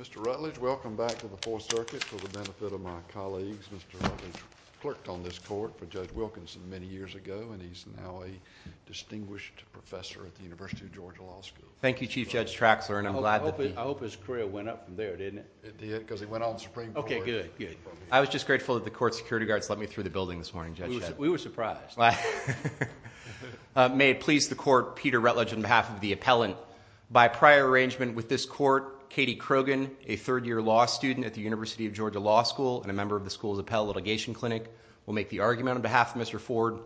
Mr. Rutledge, welcome back to the Fourth Circuit for the benefit of my colleagues. Mr. Rutledge clerked on this court for Judge Wilkinson many years ago, and he's now a distinguished professor at the University of Georgia Law School. Thank you, Chief Judge Traxler. I hope his career went up from there, didn't it? It did, because he went on to Supreme Court. I was just grateful that the court security guards let me through the building this morning, Judge. We were surprised. May it please the court, Peter Rutledge, on behalf of the appellant, by prior arrangement with this court, Katie Krogan, a third-year law student at the University of Georgia Law School and a member of the school's appellate litigation clinic, will make the argument on behalf of Mr. Ford.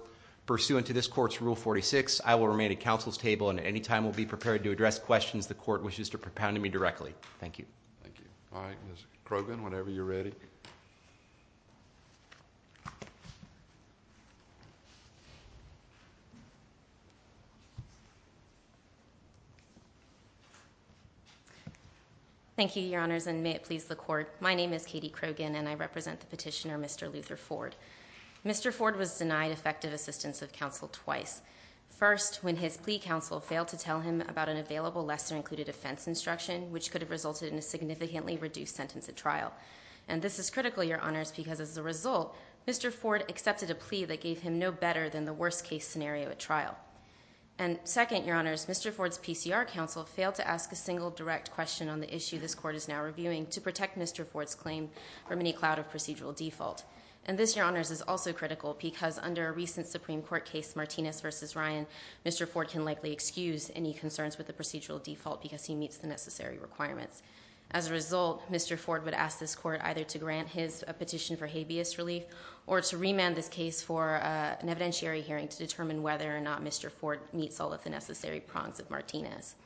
Pursuant to this court's Rule 46, I will remain at counsel's table, and at any time will be prepared to address questions the court wishes to propound to me directly. Thank you. Thank you. All right, Ms. Krogan, whenever you're ready. Thank you, Your Honors, and may it please the court, my name is Katie Krogan, and I represent the petitioner, Mr. Luther Ford. Mr. Ford was denied effective assistance of counsel twice. First, when his plea counsel failed to tell him about an available lesser-included offense instruction, which could have resulted in a significantly reduced sentence at trial. And this is critical, Your Honors, because as a result, Mr. Ford accepted a plea that gave him no better than the worst-case scenario at trial. And second, Your Honors, Mr. Ford's PCR counsel failed to ask a single direct question on the issue this court is now reviewing to protect Mr. Ford's claim from any cloud of procedural default. And this, Your Honors, is also critical because under a recent Supreme Court case, Martinez v. Ryan, Mr. Ford can likely excuse any concerns with the procedural default because he meets the necessary requirements. As a result, Mr. Ford would ask this court either to grant his petition for habeas relief or to remand this case for an evidentiary hearing to determine whether or not Mr. Ford meets all of the necessary prongs of Martinez.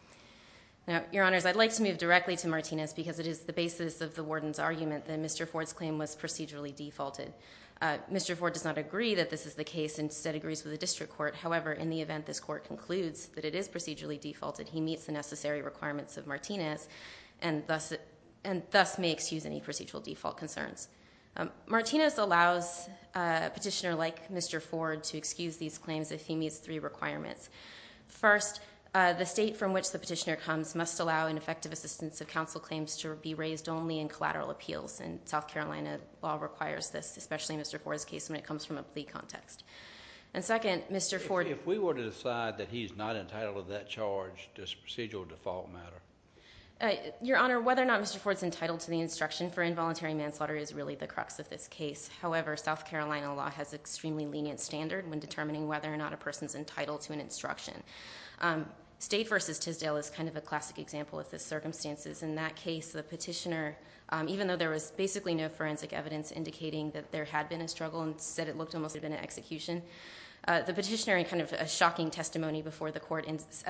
Now, Your Honors, I'd like to move directly to Martinez because it is the basis of the warden's argument that Mr. Ford's claim was procedurally defaulted. Mr. Ford does not agree that this is the case and instead agrees with the district court. However, in the event this court concludes that it is procedurally defaulted, he meets the necessary requirements of Martinez and thus may excuse any procedural default concerns. Martinez allows a petitioner like Mr. Ford to excuse these claims if he meets three requirements. First, the state from which the petitioner comes must allow an effective assistance of counsel claims to be raised only in collateral appeals. And South Carolina law requires this, especially in Mr. Ford's case when it comes from a plea context. And second, Mr. Ford... If we were to decide that he's not entitled to that charge, does procedural default matter? Your Honor, whether or not Mr. Ford's entitled to the instruction for involuntary manslaughter is really the crux of this case. However, South Carolina law has an extremely lenient standard when determining whether or not a person's entitled to an instruction. State v. Tisdale is kind of a classic example of the circumstances in that case. The petitioner, even though there was basically no forensic evidence indicating that there had been a struggle and said it looked almost like there had been an execution, the petitioner, in kind of a shocking testimony before the court,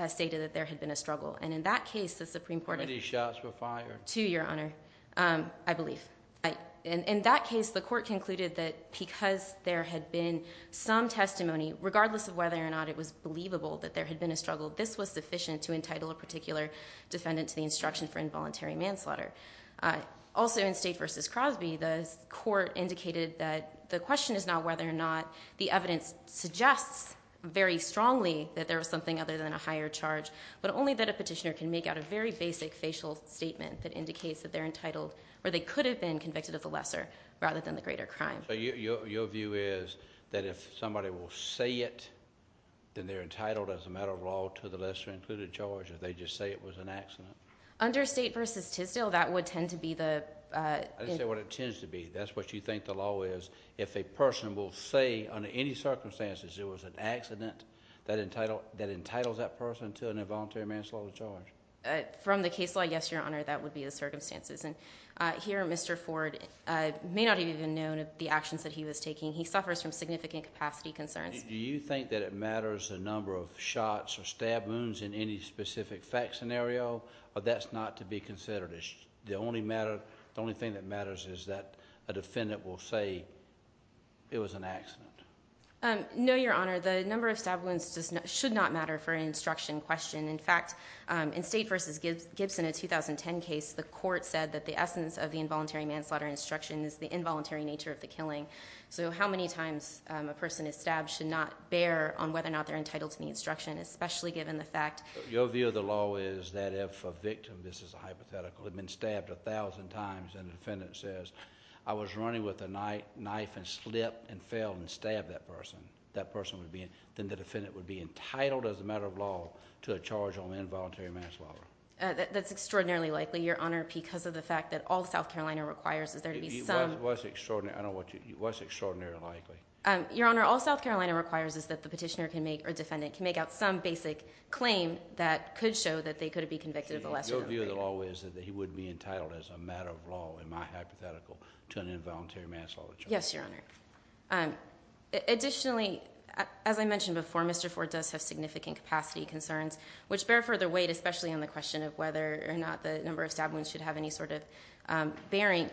stated that there had been a struggle. And in that case, the Supreme Court... How many shots were fired? Two, Your Honor, I believe. In that case, the court concluded that because there had been some testimony, regardless of whether or not it was believable that there had been a struggle, this was sufficient to entitle a particular defendant to the instruction for involuntary manslaughter. Also, in State v. Crosby, the court indicated that the question is now whether or not the evidence suggests very strongly that there was something other than a higher charge, but only that a petitioner can make out a very basic facial statement that indicates that they're entitled or they could have been convicted of the lesser rather than the greater crime. So your view is that if somebody will say it, then they're entitled as a matter of law to the lesser included charge, or they just say it was an accident? Under State v. Tisdale, that would tend to be the... I didn't say what it tends to be. That's what you think the law is. If a person will say under any circumstances there was an accident that entitles that person to an involuntary manslaughter charge. From the case law, yes, Your Honor, that would be the circumstances. Here, Mr. Ford may not have even known of the actions that he was taking. He suffers from significant capacity concerns. Do you think that it matters the number of shots or stab wounds in any specific fact scenario, or that's not to be considered? The only thing that matters is that a defendant will say it was an accident. No, Your Honor. The number of stab wounds should not matter for an instruction question. In fact, in State v. Gibson, a 2010 case, the court said that the essence of the involuntary manslaughter instruction is the involuntary nature of the killing. So how many times a person is stabbed should not bear on whether or not they're entitled to the instruction, especially given the fact... Your view of the law is that if a victim, this is a hypothetical, had been stabbed a thousand times, and the defendant says, I was running with a knife and slipped and fell and stabbed that person, then the defendant would be entitled as a matter of law to a charge on involuntary manslaughter. That's extraordinarily likely, Your Honor, because of the fact that all South Carolina requires is there to be some... What's extraordinarily likely? Your Honor, all South Carolina requires is that the petitioner can make, or defendant, can make out some basic claim that could show that they could be convicted of a lesser crime. Your view of the law is that he would be entitled as a matter of law, in my hypothetical, to an involuntary manslaughter charge. Yes, Your Honor. Additionally, as I mentioned before, Mr. Ford does have significant capacity concerns, which bear further weight, especially on the question of whether or not the number of stab wounds should have any sort of bearing.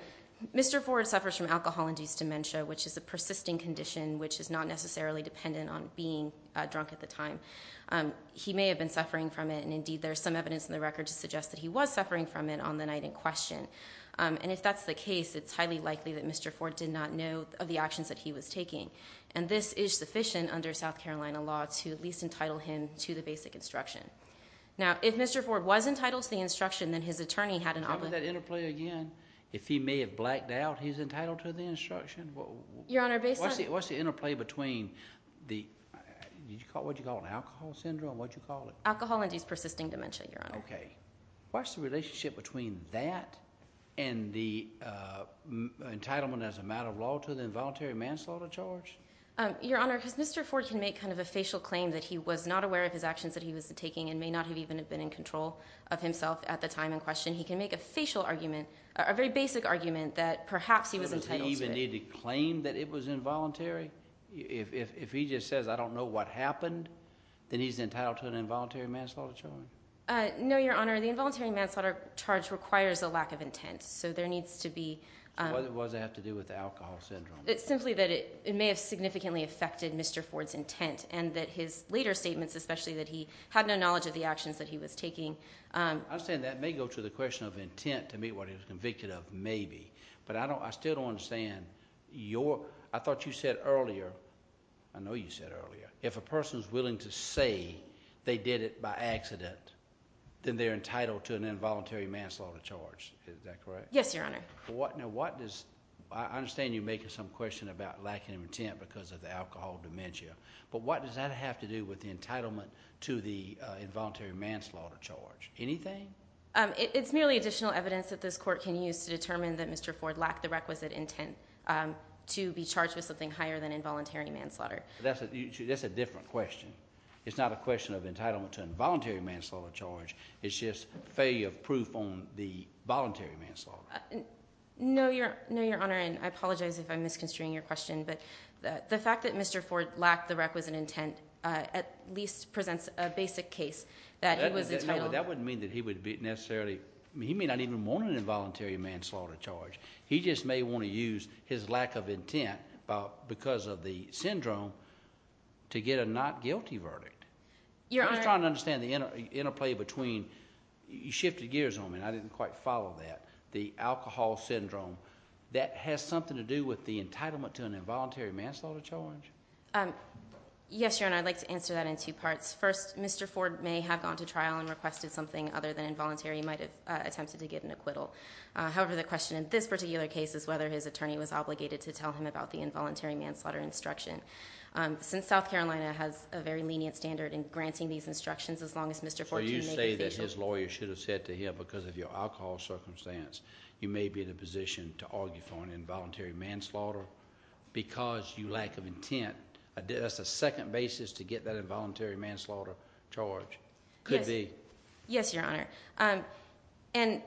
Mr. Ford suffers from alcohol-induced dementia, which is a persisting condition, which is not necessarily dependent on being drunk at the time. He may have been suffering from it, and indeed there's some evidence in the record to suggest that he was suffering from it on the night in question. And if that's the case, it's highly likely that Mr. Ford did not know of the actions that he was taking. And this is sufficient under South Carolina law to at least entitle him to the basic instruction. Now, if Mr. Ford was entitled to the instruction, then his attorney had an obligation... What was that interplay again? If he may have blacked out, he's entitled to the instruction? Your Honor, based on... What's the interplay between the, what do you call it, alcohol syndrome, what do you call it? Alcohol-induced persisting dementia, Your Honor. Okay. What's the relationship between that and the entitlement as a matter of law to the involuntary manslaughter charge? Your Honor, because Mr. Ford can make kind of a facial claim that he was not aware of his actions that he was taking and may not have even been in control of himself at the time in question, he can make a facial argument, a very basic argument that perhaps he was entitled to it. Does he even need to claim that it was involuntary? If he just says, I don't know what happened, then he's entitled to an involuntary manslaughter charge? No, Your Honor, the involuntary manslaughter charge requires a lack of intent, so there needs to be... What does that have to do with alcohol syndrome? It's simply that it may have significantly affected Mr. Ford's intent and that his later statements, especially that he had no knowledge of the actions that he was taking... I'm saying that may go to the question of intent to meet what he was convicted of, maybe, but I still don't understand your, I thought you said earlier, I know you said earlier, if a person's willing to say they did it by accident, then they're entitled to an involuntary manslaughter charge. Is that correct? Yes, Your Honor. Now what does, I understand you're making some question about lacking of intent because of the alcohol dementia, but what does that have to do with the entitlement to the involuntary manslaughter charge? Anything? It's merely additional evidence that this court can use to determine that Mr. Ford lacked the requisite intent to be charged with something higher than involuntary manslaughter. That's a different question. It's not a question of entitlement to involuntary manslaughter charge. It's just failure of proof on the voluntary manslaughter. No, Your Honor, and I apologize if I'm misconstruing your question, but the fact that Mr. Ford lacked the requisite intent at least presents a basic case that he was entitled... That wouldn't mean that he would be necessarily, he may not even want an involuntary manslaughter charge. He just may want to use his lack of intent because of the syndrome to get a not guilty verdict. I'm just trying to understand the interplay between, you shifted gears on me and I didn't quite follow that, the alcohol syndrome, that has something to do with the entitlement to an involuntary manslaughter charge? Yes, Your Honor, I'd like to answer that in two parts. First, Mr. Ford may have gone to trial and requested something other than involuntary. He might have attempted to get an acquittal. However, the question in this particular case is whether his attorney was obligated to tell him about the involuntary manslaughter instruction. Since South Carolina has a very lenient standard in granting these instructions, as long as Mr. Ford... So you say that his lawyer should have said to him, because of your alcohol circumstance, you may be in a position to argue for an involuntary manslaughter because you lack of intent. That's the second basis to get that involuntary manslaughter charge. Could be. Yes, Your Honor. And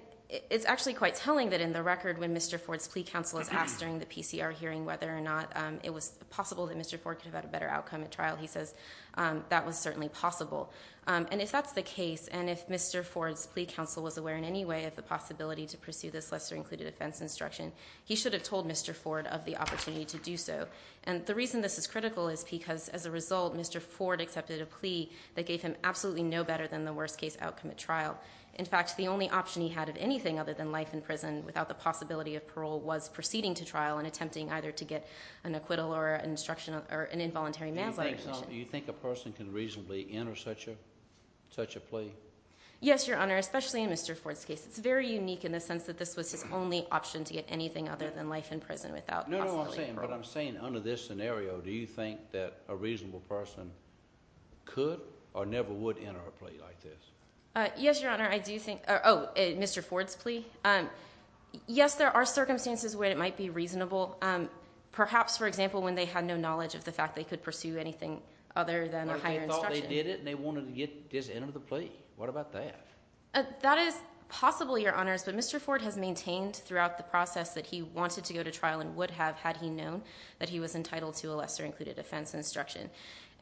it's actually quite telling that in the record when Mr. Ford's plea counsel was asked during the PCR hearing whether or not it was possible that Mr. Ford could have had a better outcome at trial, he says that was certainly possible. And if that's the case, and if Mr. Ford's plea counsel was aware in any way of the possibility to pursue this lesser included offense instruction, he should have told Mr. Ford of the opportunity to do so. And the reason this is critical is because, as a result, Mr. Ford accepted a plea that gave him absolutely no better than the worst case outcome at trial. In fact, the only option he had of anything other than life in prison without the possibility of parole was proceeding to trial and attempting either to get an acquittal or an involuntary manslaughter. Do you think a person can reasonably enter such a plea? Yes, Your Honor, especially in Mr. Ford's case. It's very unique in the sense that this was his only option to get anything other than life in prison without possibly parole. No, no, I'm saying under this scenario, do you think that a reasonable person could or never would enter a plea like this? Yes, Your Honor, I do think, oh, Mr. Ford's plea. Yes, there are circumstances where it might be reasonable. Perhaps, for example, when they had no knowledge of the fact they could pursue anything other than a higher instruction. Like they thought they did it and they wanted to get this into the plea. What about that? That is possible, Your Honors, but Mr. Ford has maintained throughout the process that he wanted to go to trial and would have had he known that he was entitled to a lesser included offense instruction.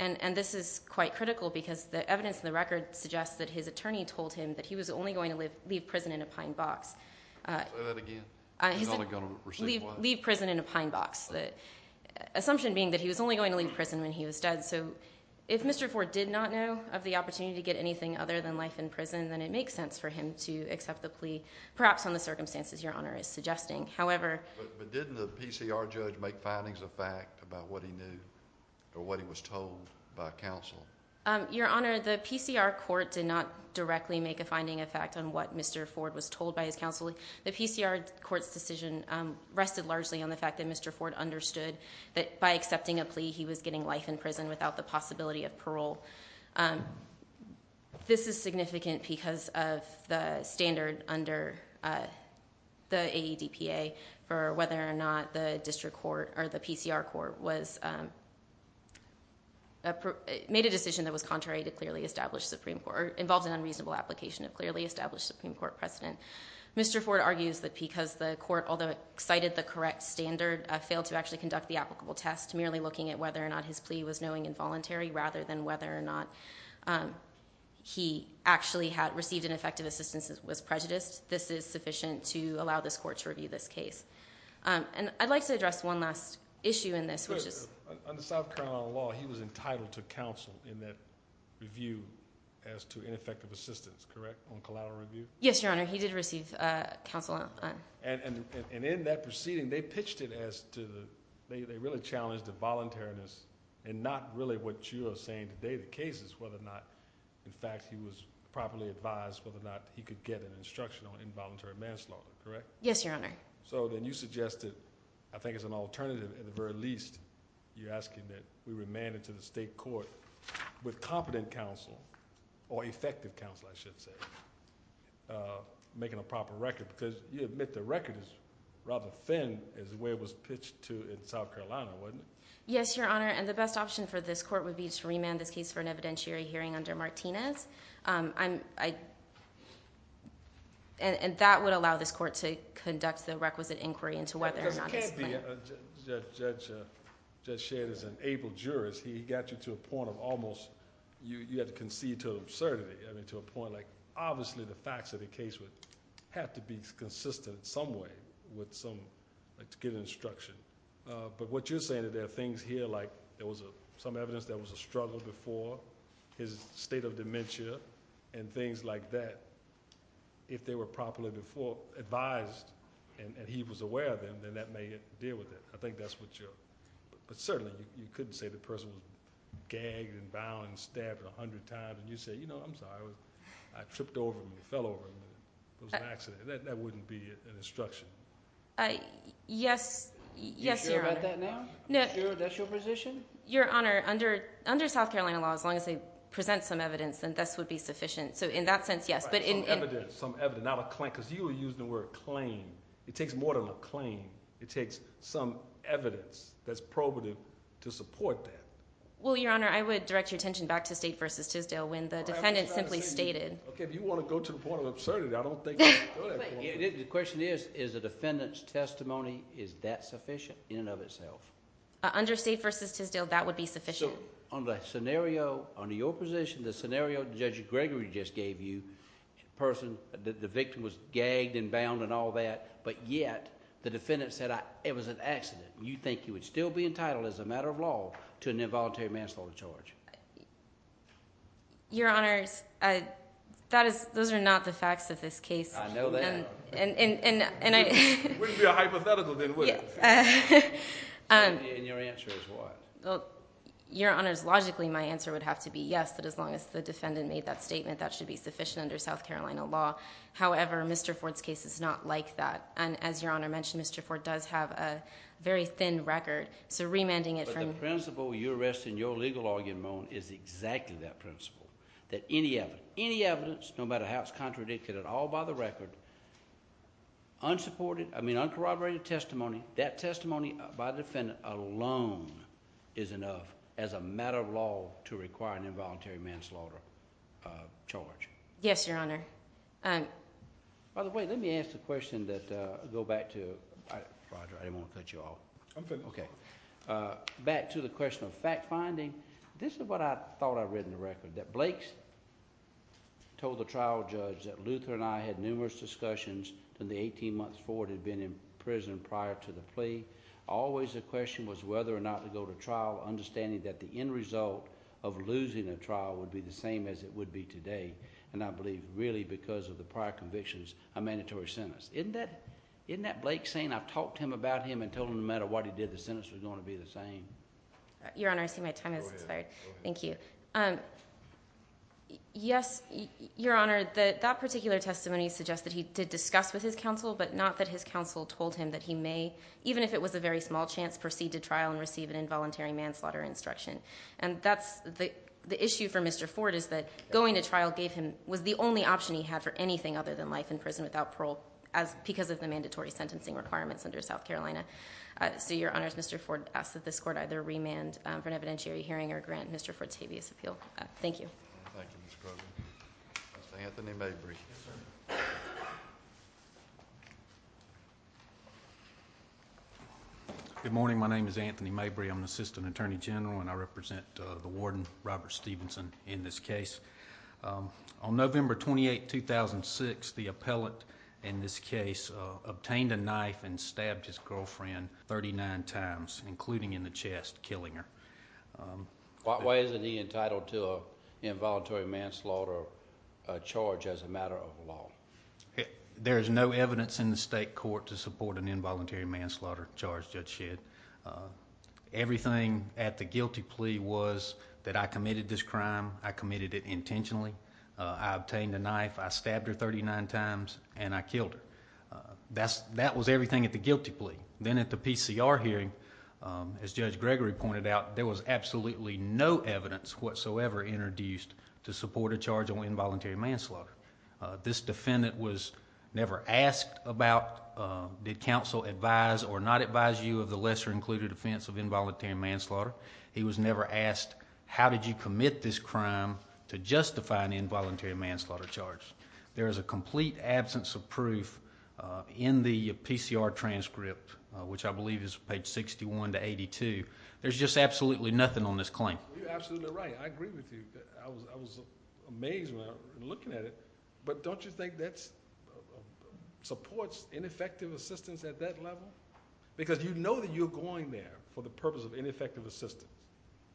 And this is quite critical because the evidence in the record suggests that his attorney told him that he was only going to leave prison in a pine box. Say that again? Leave prison in a pine box. Assumption being that he was only going to leave prison when he was dead, so if Mr. Ford did not know of the opportunity to get anything other than life in prison, then it makes sense for him to accept the plea, perhaps on the circumstances Your Honor is suggesting. But didn't the PCR judge make findings of fact about what he knew or what he was told by counsel? Your Honor, the PCR court did not directly make a finding of fact on what Mr. Ford was told by his counsel. The PCR court's decision rested largely on the fact that Mr. Ford understood that by accepting a plea he was getting life in prison without the possibility of parole. This is significant because of the standard under the AEDPA for whether or not the district court or the PCR court made a decision that was contrary to clearly established Supreme Court, or involved in unreasonable application of clearly established Supreme Court precedent. Mr. Ford argues that because the court, although it cited the correct standard, failed to actually conduct the applicable test, merely looking at whether or not his plea was knowing involuntary rather than whether or not he actually had received ineffective assistance was prejudiced. This is sufficient to allow this court to review this case. And I'd like to address one last issue in this. On the South Carolina law, he was entitled to counsel in that review as to ineffective assistance, correct, on collateral review? Yes, Your Honor. He did receive counsel. And in that proceeding, they pitched it as to the—they really challenged the voluntariness and not really what you are saying today, the cases, whether or not, in fact, he was properly advised, whether or not he could get an instruction on involuntary manslaughter, correct? Yes, Your Honor. So then you suggested, I think as an alternative at the very least, you're asking that we remand it to the state court with competent counsel or effective counsel, I should say. Making a proper record, because you admit the record is rather thin as the way it was pitched to in South Carolina, wasn't it? Yes, Your Honor, and the best option for this court would be to remand this case for an evidentiary hearing under Martinez. And that would allow this court to conduct the requisite inquiry into whether or not his plea— Judge Shader is an able jurist. He got you to a point of almost—you had to concede to an absurdity, I mean to a point like, obviously the facts of the case would have to be consistent in some way with some—like to get an instruction. But what you're saying is there are things here like there was some evidence there was a struggle before, his state of dementia, and things like that. If they were properly advised and he was aware of them, then that may deal with it. I think that's what you're—but certainly you couldn't say the person was gagged and bound and stabbed a hundred times and you say, you know, I'm sorry. I tripped over him and fell over him. It was an accident. That wouldn't be an instruction. Yes, Your Honor. Are you sure about that now? Are you sure that's your position? Your Honor, under South Carolina law, as long as they present some evidence, then this would be sufficient. So in that sense, yes. Some evidence, not a claim, because you were using the word claim. It takes more than a claim. It takes some evidence that's probative to support that. Well, Your Honor, I would direct your attention back to State v. Tisdale when the defendant simply stated— Okay, if you want to go to the point of absurdity, I don't think— The question is, is the defendant's testimony, is that sufficient in and of itself? Under State v. Tisdale, that would be sufficient. On the scenario, under your position, the scenario Judge Gregory just gave you, the victim was gagged and bound and all that, but yet the defendant said it was an accident. You think you would still be entitled as a matter of law to an involuntary manslaughter charge? Your Honor, those are not the facts of this case. I know that. It wouldn't be a hypothetical, then, would it? And your answer is what? Well, Your Honor, logically my answer would have to be yes, that as long as the defendant made that statement, that should be sufficient under South Carolina law. However, Mr. Ford's case is not like that. And as Your Honor mentioned, Mr. Ford does have a very thin record, so remanding it from— But the principle you're arresting, your legal argument is exactly that principle, that any evidence, no matter how it's contradicted at all by the record, unsupported, I mean uncorroborated testimony, that testimony by the defendant alone is enough as a matter of law to require an involuntary manslaughter charge. Yes, Your Honor. By the way, let me ask the question that—go back to—Roger, I didn't want to cut you off. I'm finished. Okay. Back to the question of fact-finding, this is what I thought I read in the record, that Blake told the trial judge that Luther and I had numerous discussions from the 18 months Ford had been in prison prior to the plea. Always the question was whether or not to go to trial, understanding that the end result of losing a trial would be the same as it would be today. And I believe really because of the prior convictions, a mandatory sentence. Isn't that Blake saying, I've talked to him about him and told him no matter what he did, the sentence was going to be the same? Your Honor, I see my time has expired. Go ahead. Thank you. Yes, Your Honor, that particular testimony suggests that he did discuss with his counsel but not that his counsel told him that he may, even if it was a very small chance, proceed to trial and receive an involuntary manslaughter instruction. And that's the issue for Mr. Ford is that going to trial was the only option he had for anything other than life in prison without parole because of the mandatory sentencing requirements under South Carolina. So, Your Honor, Mr. Ford asked that this court either remand for an evidentiary hearing or grant Mr. Ford's habeas appeal. Thank you. Thank you, Ms. Kroger. Mr. Anthony Mabry. Yes, sir. Good morning. My name is Anthony Mabry. I'm an assistant attorney general and I represent the warden, Robert Stevenson, in this case. On November 28, 2006, the appellate in this case obtained a knife and stabbed his girlfriend 39 times, including in the chest, killing her. Why isn't he entitled to an involuntary manslaughter charge as a matter of law? There is no evidence in the state court to support an involuntary manslaughter charge, Judge Shedd. Everything at the guilty plea was that I committed this crime, I committed it intentionally, I obtained a knife, I stabbed her 39 times, and I killed her. That was everything at the guilty plea. Then at the PCR hearing, as Judge Gregory pointed out, there was absolutely no evidence whatsoever introduced to support a charge of involuntary manslaughter. This defendant was never asked about did counsel advise or not advise you of the lesser included offense of involuntary manslaughter. He was never asked how did you commit this crime to justify an involuntary manslaughter charge. There is a complete absence of proof in the PCR transcript, which I believe is page 61 to 82. There's just absolutely nothing on this claim. You're absolutely right. I agree with you. I was amazed when I was looking at it. But don't you think that supports ineffective assistance at that level? Because you know that you're going there for the purpose of ineffective assistance,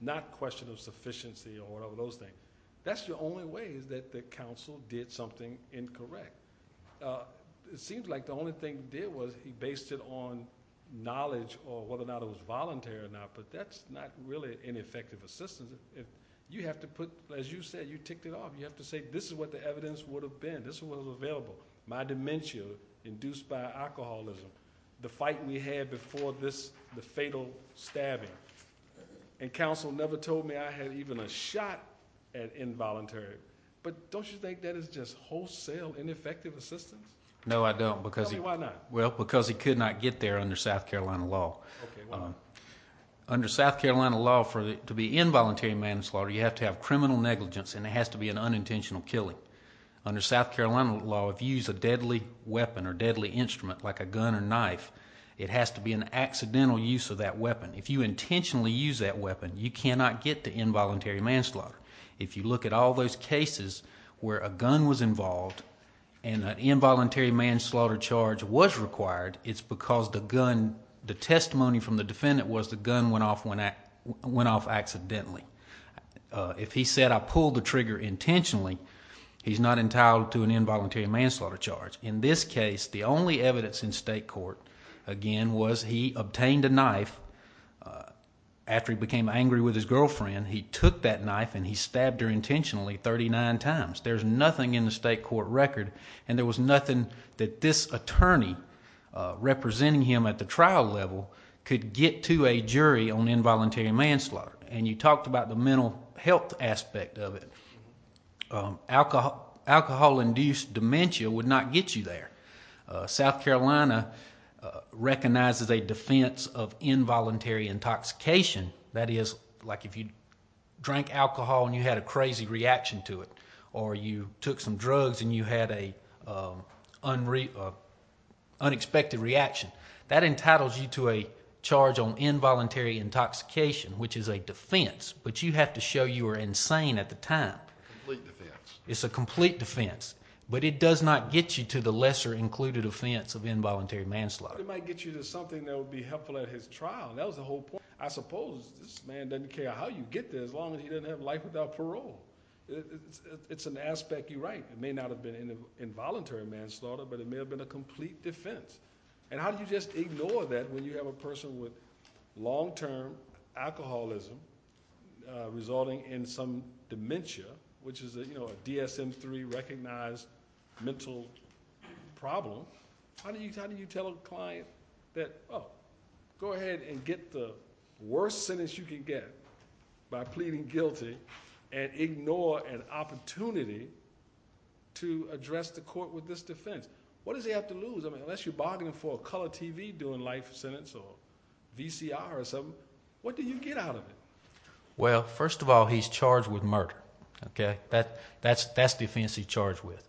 not a question of sufficiency or one of those things. That's the only way is that the counsel did something incorrect. It seems like the only thing he did was he based it on knowledge of whether or not it was voluntary or not, but that's not really ineffective assistance. You have to put, as you said, you ticked it off. You have to say this is what the evidence would have been. This is what was available, my dementia induced by alcoholism, the fight we had before this, the fatal stabbing. And counsel never told me I had even a shot at involuntary. But don't you think that is just wholesale ineffective assistance? No, I don't. Tell me why not. Well, because he could not get there under South Carolina law. Under South Carolina law, to be involuntary manslaughter, you have to have criminal negligence, and it has to be an unintentional killing. Under South Carolina law, if you use a deadly weapon or deadly instrument like a gun or knife, it has to be an accidental use of that weapon. If you intentionally use that weapon, you cannot get to involuntary manslaughter. If you look at all those cases where a gun was involved and an involuntary manslaughter charge was required, it's because the gun, the testimony from the defendant was the gun went off accidentally. If he said I pulled the trigger intentionally, he's not entitled to an involuntary manslaughter charge. In this case, the only evidence in state court, again, was he obtained a knife. After he became angry with his girlfriend, he took that knife and he stabbed her intentionally 39 times. There's nothing in the state court record, and there was nothing that this attorney representing him at the trial level could get to a jury on involuntary manslaughter. And you talked about the mental health aspect of it. Alcohol-induced dementia would not get you there. South Carolina recognizes a defense of involuntary intoxication. That is like if you drank alcohol and you had a crazy reaction to it, or you took some drugs and you had an unexpected reaction. That entitles you to a charge on involuntary intoxication, which is a defense, but you have to show you were insane at the time. A complete defense. It's a complete defense, but it does not get you to the lesser included offense of involuntary manslaughter. It might get you to something that would be helpful at his trial. That was the whole point. I suppose this man doesn't care how you get there as long as he doesn't have life without parole. It's an aspect you're right. It may not have been involuntary manslaughter, but it may have been a complete defense. How do you just ignore that when you have a person with long-term alcoholism resulting in some dementia, which is a DSM-III recognized mental problem? How do you tell a client that, oh, go ahead and get the worst sentence you can get by pleading guilty and ignore an opportunity to address the court with this defense? What does he have to lose? Unless you're bargaining for a color TV doing life sentence or VCR or something, what do you get out of it? Well, first of all, he's charged with murder. That's the offense he's charged with.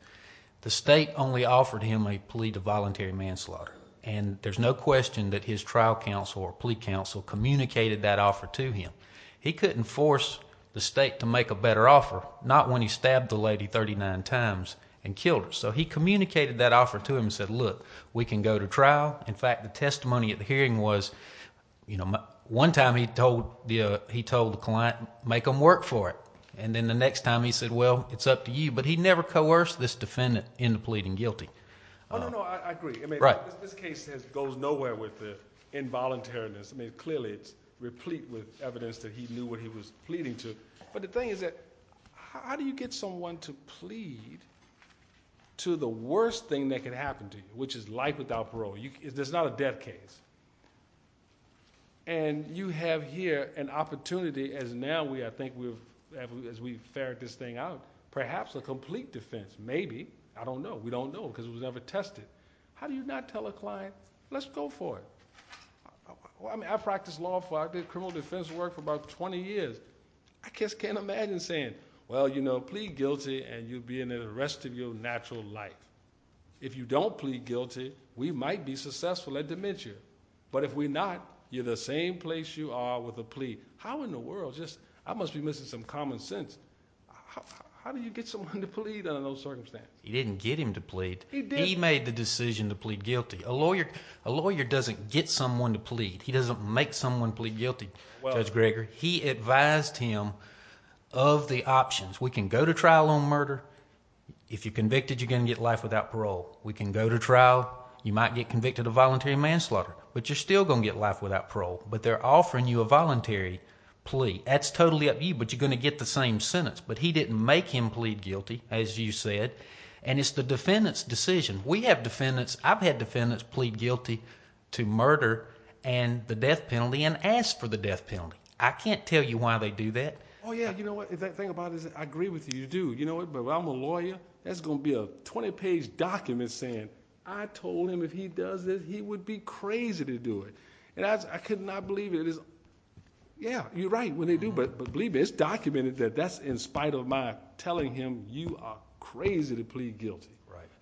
The state only offered him a plea to voluntary manslaughter, and there's no question that his trial counsel or plea counsel communicated that offer to him. He couldn't force the state to make a better offer, not when he stabbed the lady 39 times and killed her. So he communicated that offer to him and said, look, we can go to trial. In fact, the testimony at the hearing was one time he told the client, make them work for it, and then the next time he said, well, it's up to you. But he never coerced this defendant into pleading guilty. Oh, no, no, I agree. I mean, this case goes nowhere with the involuntariness. I mean, clearly it's replete with evidence that he knew what he was pleading to. But the thing is that how do you get someone to plead to the worst thing that can happen to you, which is life without parole? There's not a death case. And you have here an opportunity, as now I think we've fared this thing out, perhaps a complete defense. Maybe. I don't know. We don't know because it was never tested. How do you not tell a client, let's go for it? I mean, I practiced law. I did criminal defense work for about 20 years. I just can't imagine saying, well, you know, plead guilty and you'll be in there the rest of your natural life. If you don't plead guilty, we might be successful at dementia. But if we're not, you're the same place you are with a plea. How in the world? I must be missing some common sense. How do you get someone to plead under those circumstances? He didn't get him to plead. He did. He made the decision to plead guilty. A lawyer doesn't get someone to plead. He doesn't make someone plead guilty, Judge Greger. He advised him of the options. We can go to trial on murder. If you're convicted, you're going to get life without parole. We can go to trial. You might get convicted of voluntary manslaughter. But you're still going to get life without parole. But they're offering you a voluntary plea. That's totally up to you, but you're going to get the same sentence. But he didn't make him plead guilty, as you said. And it's the defendant's decision. We have defendants. I've had defendants plead guilty to murder and the death penalty and ask for the death penalty. I can't tell you why they do that. Oh, yeah. You know what? The thing about it is I agree with you. You do. But I'm a lawyer. That's going to be a 20-page document saying I told him if he does this, he would be crazy to do it. And I could not believe it. Yeah, you're right when they do. But believe me, it's documented that that's in spite of my telling him, you are crazy to plead guilty.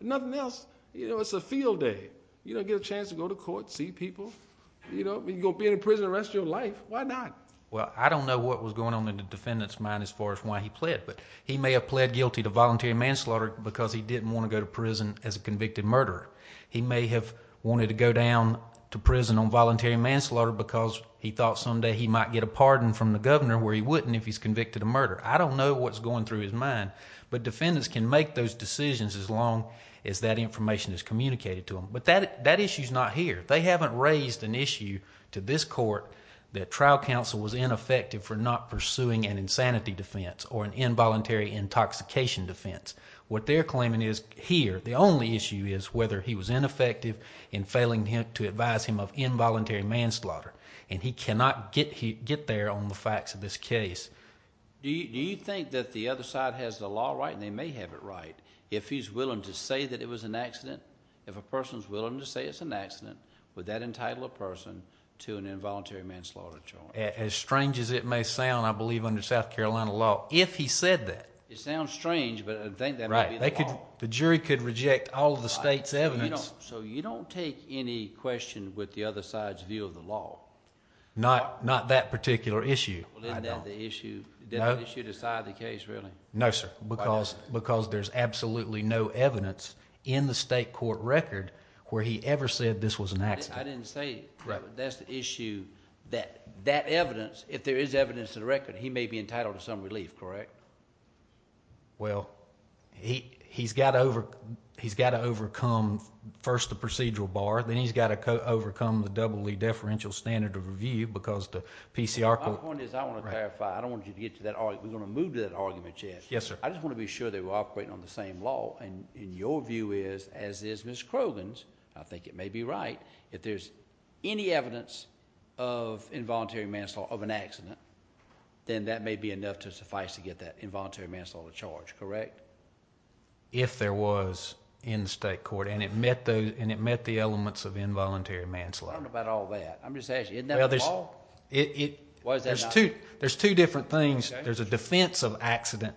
Nothing else. It's a field day. You don't get a chance to go to court, see people. You're going to be in prison the rest of your life. Why not? Well, I don't know what was going on in the defendant's mind as far as why he pled. But he may have pled guilty to voluntary manslaughter because he didn't want to go to prison as a convicted murderer. He may have wanted to go down to prison on voluntary manslaughter because he thought someday he might get a pardon from the governor I don't know what's going through his mind. But defendants can make those decisions as long as that information is communicated to them. But that issue is not here. They haven't raised an issue to this court that trial counsel was ineffective for not pursuing an insanity defense or an involuntary intoxication defense. What they're claiming is here. The only issue is whether he was ineffective in failing to advise him of involuntary manslaughter. And he cannot get there on the facts of this case. Do you think that the other side has the law right, and they may have it right, if he's willing to say that it was an accident? If a person's willing to say it's an accident, would that entitle a person to an involuntary manslaughter charge? As strange as it may sound, I believe under South Carolina law, if he said that. It sounds strange, but I think that might be the law. The jury could reject all of the state's evidence. So you don't take any question with the other side's view of the law? Not that particular issue. Well, isn't that the issue to side of the case, really? No, sir. Why not? Because there's absolutely no evidence in the state court record where he ever said this was an accident. I didn't say it. Right. That's the issue. That evidence, if there is evidence in the record, he may be entitled to some relief, correct? Well, he's got to overcome first the procedural bar. Then he's got to overcome the EE deferential standard of review because the PCR court. My point is I want to clarify. I don't want you to get to that argument. We're going to move to that argument yet. Yes, sir. I just want to be sure they were operating on the same law. And your view is, as is Ms. Croghan's, I think it may be right, if there's any evidence of involuntary manslaughter, of an accident, then that may be enough to suffice to get that involuntary manslaughter charge, correct? If there was in the state court, and it met the elements of involuntary manslaughter. I don't know about all that. I'm just asking. Isn't that all? There's two different things. There's a defense of accident,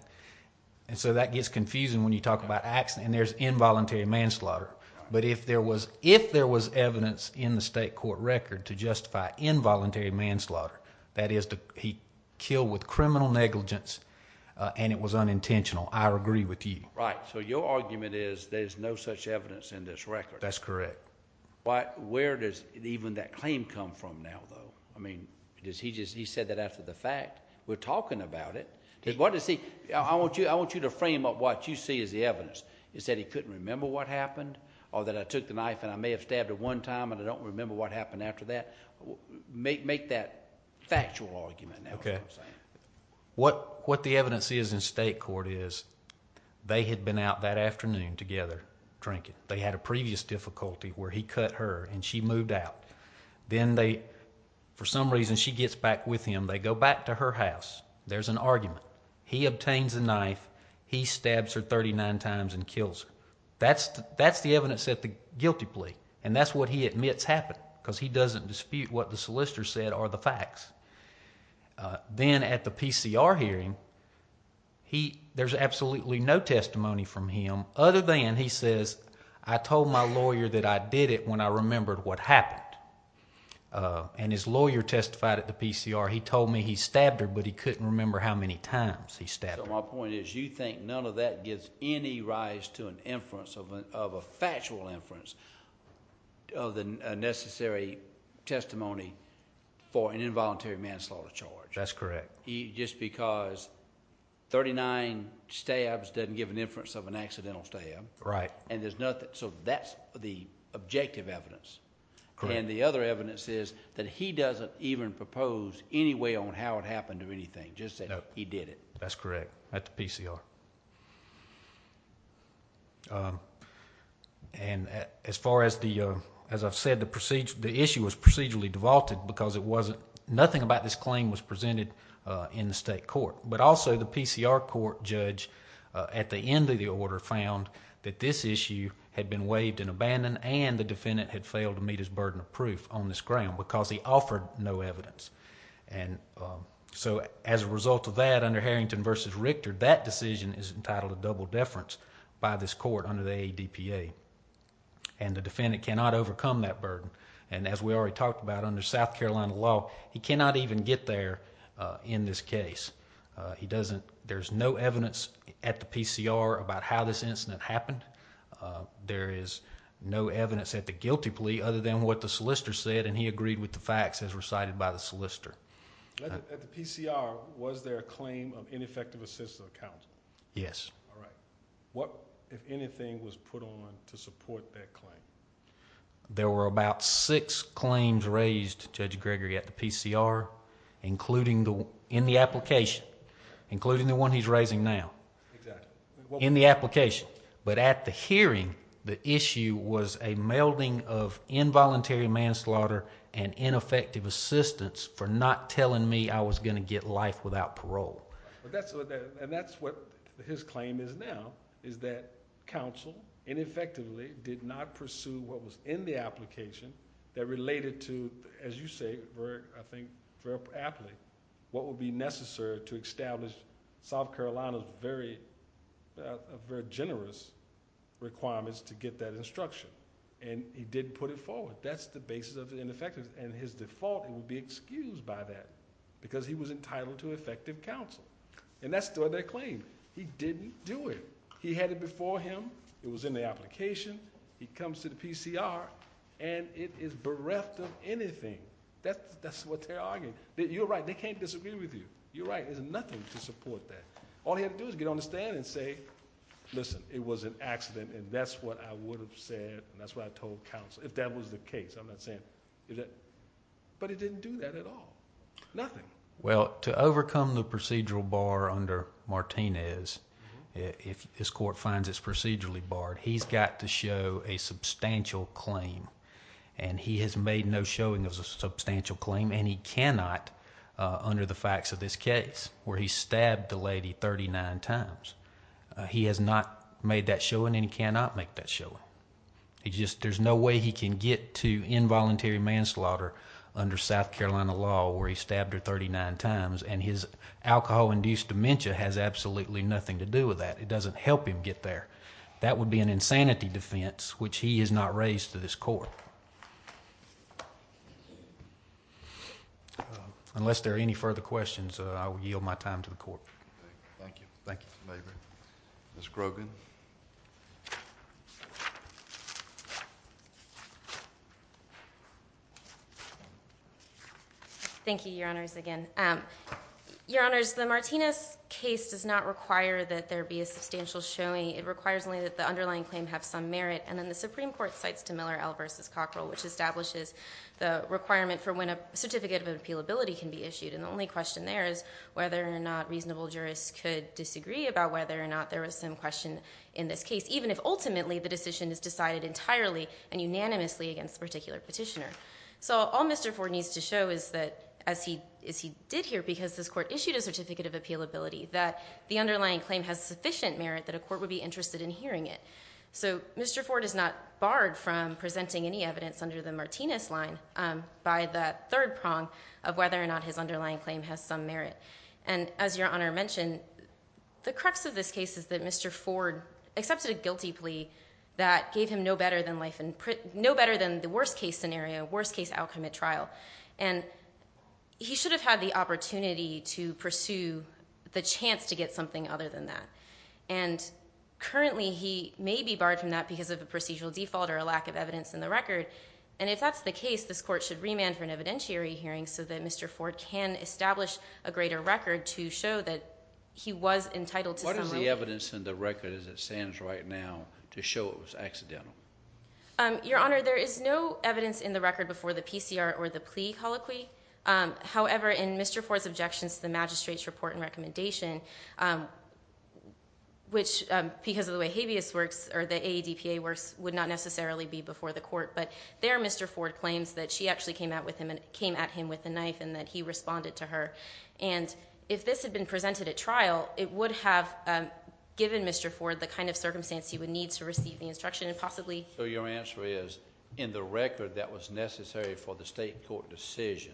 and so that gets confusing when you talk about accident. And there's involuntary manslaughter. But if there was evidence in the state court record to justify involuntary manslaughter, that is he killed with criminal negligence and it was unintentional, I agree with you. Right. So your argument is there's no such evidence in this record? That's correct. Where does even that claim come from now, though? I mean, he said that after the fact. We're talking about it. I want you to frame up what you see as the evidence. Is that he couldn't remember what happened? Or that I took the knife and I may have stabbed him one time and I don't remember what happened after that? Make that factual argument now. Okay. What the evidence is in state court is they had been out that afternoon together drinking. They had a previous difficulty where he cut her and she moved out. Then they, for some reason, she gets back with him. They go back to her house. There's an argument. He obtains a knife. He stabs her 39 times and kills her. That's the evidence at the guilty plea, and that's what he admits happened because he doesn't dispute what the solicitor said are the facts. Then at the PCR hearing, there's absolutely no testimony from him other than he says, I told my lawyer that I did it when I remembered what happened. His lawyer testified at the PCR. He told me he stabbed her, but he couldn't remember how many times he stabbed her. My point is you think none of that gives any rise to an inference of a factual inference of the necessary testimony for an involuntary manslaughter charge. That's correct. Just because 39 stabs doesn't give an inference of an accidental stab. Right. That's the objective evidence. Correct. The other evidence is that he doesn't even propose any way on how it happened or anything, just that he did it. That's correct, at the PCR. As far as I've said, the issue was procedurally devolted because nothing about this claim was presented in the state court. Also, the PCR court judge at the end of the order found that this issue had been waived and abandoned and the defendant had failed to meet his burden of proof on this ground because he offered no evidence. As a result of that, under Harrington v. Richter, that decision is entitled to double deference by this court under the AADPA. The defendant cannot overcome that burden. As we already talked about, under South Carolina law, he cannot even get there in this case. There's no evidence at the PCR about how this incident happened. There is no evidence at the guilty plea other than what the solicitor said and he agreed with the facts as recited by the solicitor. At the PCR, was there a claim of ineffective assistance of counsel? Yes. What, if anything, was put on to support that claim? There were about six claims raised, Judge Gregory, at the PCR, in the application, including the one he's raising now. Exactly. In the application, but at the hearing, the issue was a melding of involuntary manslaughter and ineffective assistance for not telling me I was going to get life without parole. That's what his claim is now, is that counsel ineffectively did not pursue what was in the application that related to, as you say, I think very aptly, what would be necessary to establish South Carolina's very generous requirements to get that instruction. He didn't put it forward. That's the basis of the ineffectiveness. His default would be excused by that because he was entitled to effective counsel. That's the other claim. He didn't do it. He had it before him. It was in the application. He comes to the PCR, and it is bereft of anything. That's what they're arguing. You're right. They can't disagree with you. You're right. There's nothing to support that. All he had to do was get on the stand and say, listen, it was an accident, and that's what I would have said, and that's what I told counsel, if that was the case. I'm not saying... But he didn't do that at all. Nothing. Well, to overcome the procedural bar under Martinez, if this court finds it's procedurally barred, he's got to show a substantial claim, and he has made no showing of a substantial claim, and he cannot under the facts of this case where he stabbed the lady 39 times. He has not made that showing, and he cannot make that showing. There's no way he can get to involuntary manslaughter under South Carolina law where he stabbed her 39 times, and his alcohol-induced dementia has absolutely nothing to do with that. It doesn't help him get there. That would be an insanity defense, which he has not raised to this court. Unless there are any further questions, I will yield my time to the court. Thank you. Thank you. Ms. Grogan. Thank you, Your Honors, again. Your Honors, the Martinez case does not require that there be a substantial showing. It requires only that the underlying claim have some merit, and then the Supreme Court cites DeMiller L versus Cockrell, which establishes the requirement for when a certificate of appealability can be issued, and the only question there is whether or not reasonable jurists could disagree about whether or not there was some question in this case, even if ultimately the decision is decided entirely and unanimously against the particular petitioner. So all Mr. Ford needs to show is that, as he did here, because this court issued a certificate of appealability, that the underlying claim has sufficient merit that a court would be interested in hearing it. So Mr. Ford is not barred from presenting any evidence under the Martinez line by the third prong of whether or not his underlying claim has some merit. And as Your Honor mentioned, the crux of this case is that Mr. Ford accepted a guilty plea that gave him no better than the worst case scenario, worst case outcome at trial. And he should have had the opportunity to pursue the chance to get something other than that. And currently he may be barred from that because of a procedural default or a lack of evidence in the record. And if that's the case, this court should remand for an evidentiary hearing so that Mr. Ford can establish a greater record to show that he was entitled to some merit. What is the evidence in the record as it stands right now to show it was Your Honor. There is no evidence in the record before the PCR or the plea colloquy. However, in Mr. Ford's objections to the magistrate's report and recommendation, which because of the way habeas works or the ADPA works would not necessarily be before the court. But there, Mr. Ford claims that she actually came out with him and came at him with the knife and that he responded to her. And if this had been presented at trial, it would have given Mr. Ford the kind of circumstance he would need to So your answer is in the record that was necessary for the state court decision,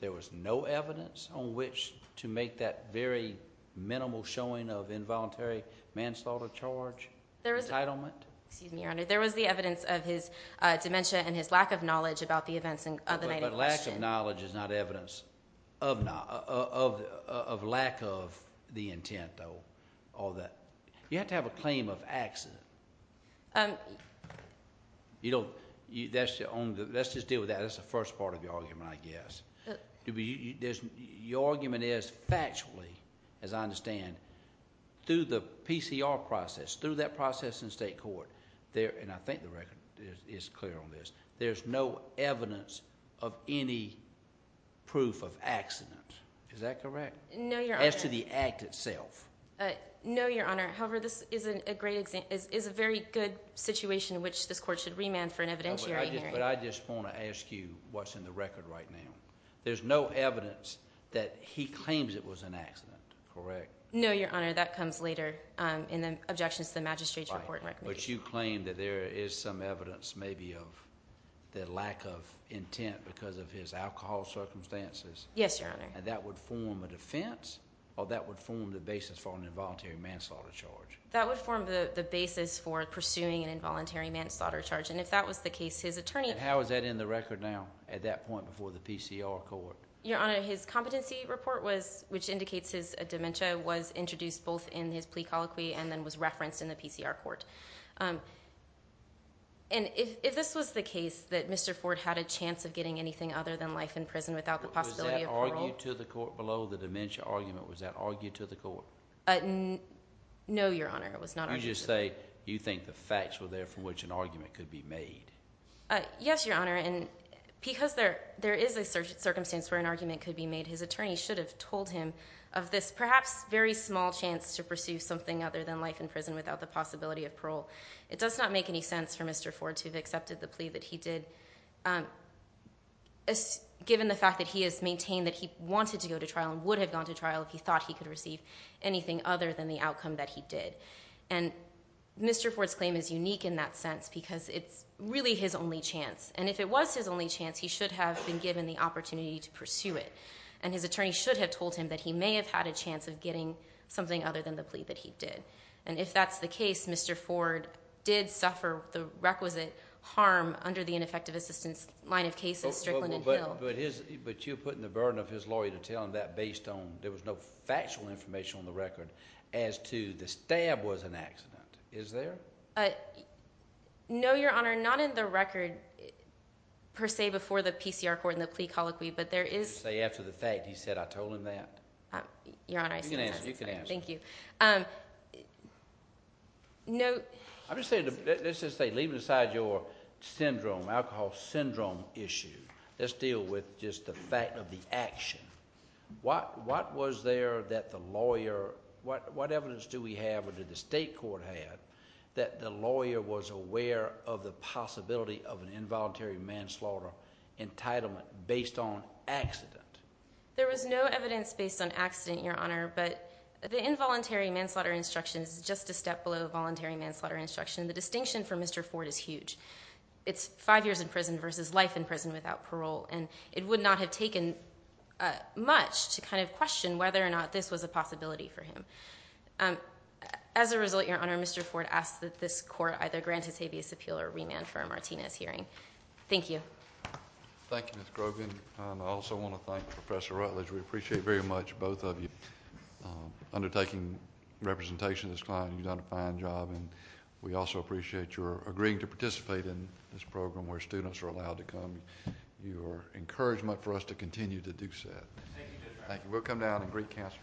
there was no evidence on which to make that very minimal showing of involuntary manslaughter charge. There was an entitlement. Excuse me, Your Honor. There was the evidence of his dementia and his lack of knowledge about the events of the night. But lack of knowledge is not evidence of not of, of lack of the intent though, all that you have to have a claim of accident. Um, you don't, you, that's the only, let's just deal with that. That's the first part of the argument, I guess. There's your argument is factually, as I understand through the PCR process through that process in state court there. And I think the record is clear on this. There's no evidence of any proof of accident. Is that correct? No, you're asked to the act itself. Uh, no, your Honor. However, this isn't a great exam is, is a very good situation in which this court should remand for an evidentiary hearing. But I just want to ask you what's in the record right now. There's no evidence that he claims it was an accident, correct? No, your Honor. That comes later. Um, in the objections to the magistrates report, but you claim that there is some evidence maybe of the lack of intent because of his alcohol circumstances. Yes, your Honor. And that would form a defense or that would form the basis for an involuntary manslaughter charge. That would form the basis for pursuing an involuntary manslaughter charge. And if that was the case, his attorney, how is that in the record now at that point before the PCR court, your Honor, his competency report was, which indicates his dementia was introduced both in his plea colloquy and then was referenced in the PCR court. Um, and if, if this was the case that Mr. Ford had a chance of getting anything other than life in prison without the possibility of arguing to the court below the dementia argument, was that argued to the court? Uh, no, your Honor. It was not. I just say, you think the facts were there from which an argument could be made? Uh, yes, your Honor. And because there, there is a search circumstance where an argument could be made. His attorney should have told him of this perhaps very small chance to pursue something other than life in prison without the possibility of parole. It does not make any sense for Mr. Ford to have accepted the plea that he did. Um, as given the fact that he has maintained that he wanted to go to trial and would have gone to trial if he thought he could receive anything other than the outcome that he did. And Mr. Ford's claim is unique in that sense because it's really his only chance. And if it was his only chance, he should have been given the opportunity to pursue it. And his attorney should have told him that he may have had a chance of getting something other than the plea that he did. And if that's the case, Mr. Ford did suffer the requisite harm under the ineffective assistance line of cases, Strickland and Hill. But his, but you're putting the burden of his lawyer to tell him that based on there was no factual information on the record as to the stab was an accident. Is there? Uh, no, your honor, not in the record per se, before the PCR court and the plea colloquy, but there is say after the fact, he said, I told him that you're on ice. You can answer. Thank you. Um, no, I'm just saying, let's just say leaving aside your syndrome, alcohol syndrome issue. Let's deal with just the fact of the action. What, what was there that the lawyer, what, what evidence do we have or did the state court had that the lawyer was aware of the possibility of an involuntary manslaughter entitlement based on accident? There was no evidence based on accident, your honor, but the involuntary manslaughter instructions is just a step below the voluntary manslaughter instruction. The distinction for Mr. Ford is huge. It's five years in prison versus life in prison without parole. And it would not have taken, uh, much to kind of question whether or not this was a possibility for him. Um, as a result, your honor, Mr. Ford asked that this court either grant his habeas appeal or remand for a Martinez hearing. Thank you. Thank you. Ms. Grogan. I also want to thank professor Rutledge. We appreciate very much. Both of you, um, undertaking representation of this client. You've done a fine job. And we also appreciate your agreeing to participate in this program where students are allowed to come. You are encouraged much for us to continue to do set. Thank you. We'll come down and greet cancer.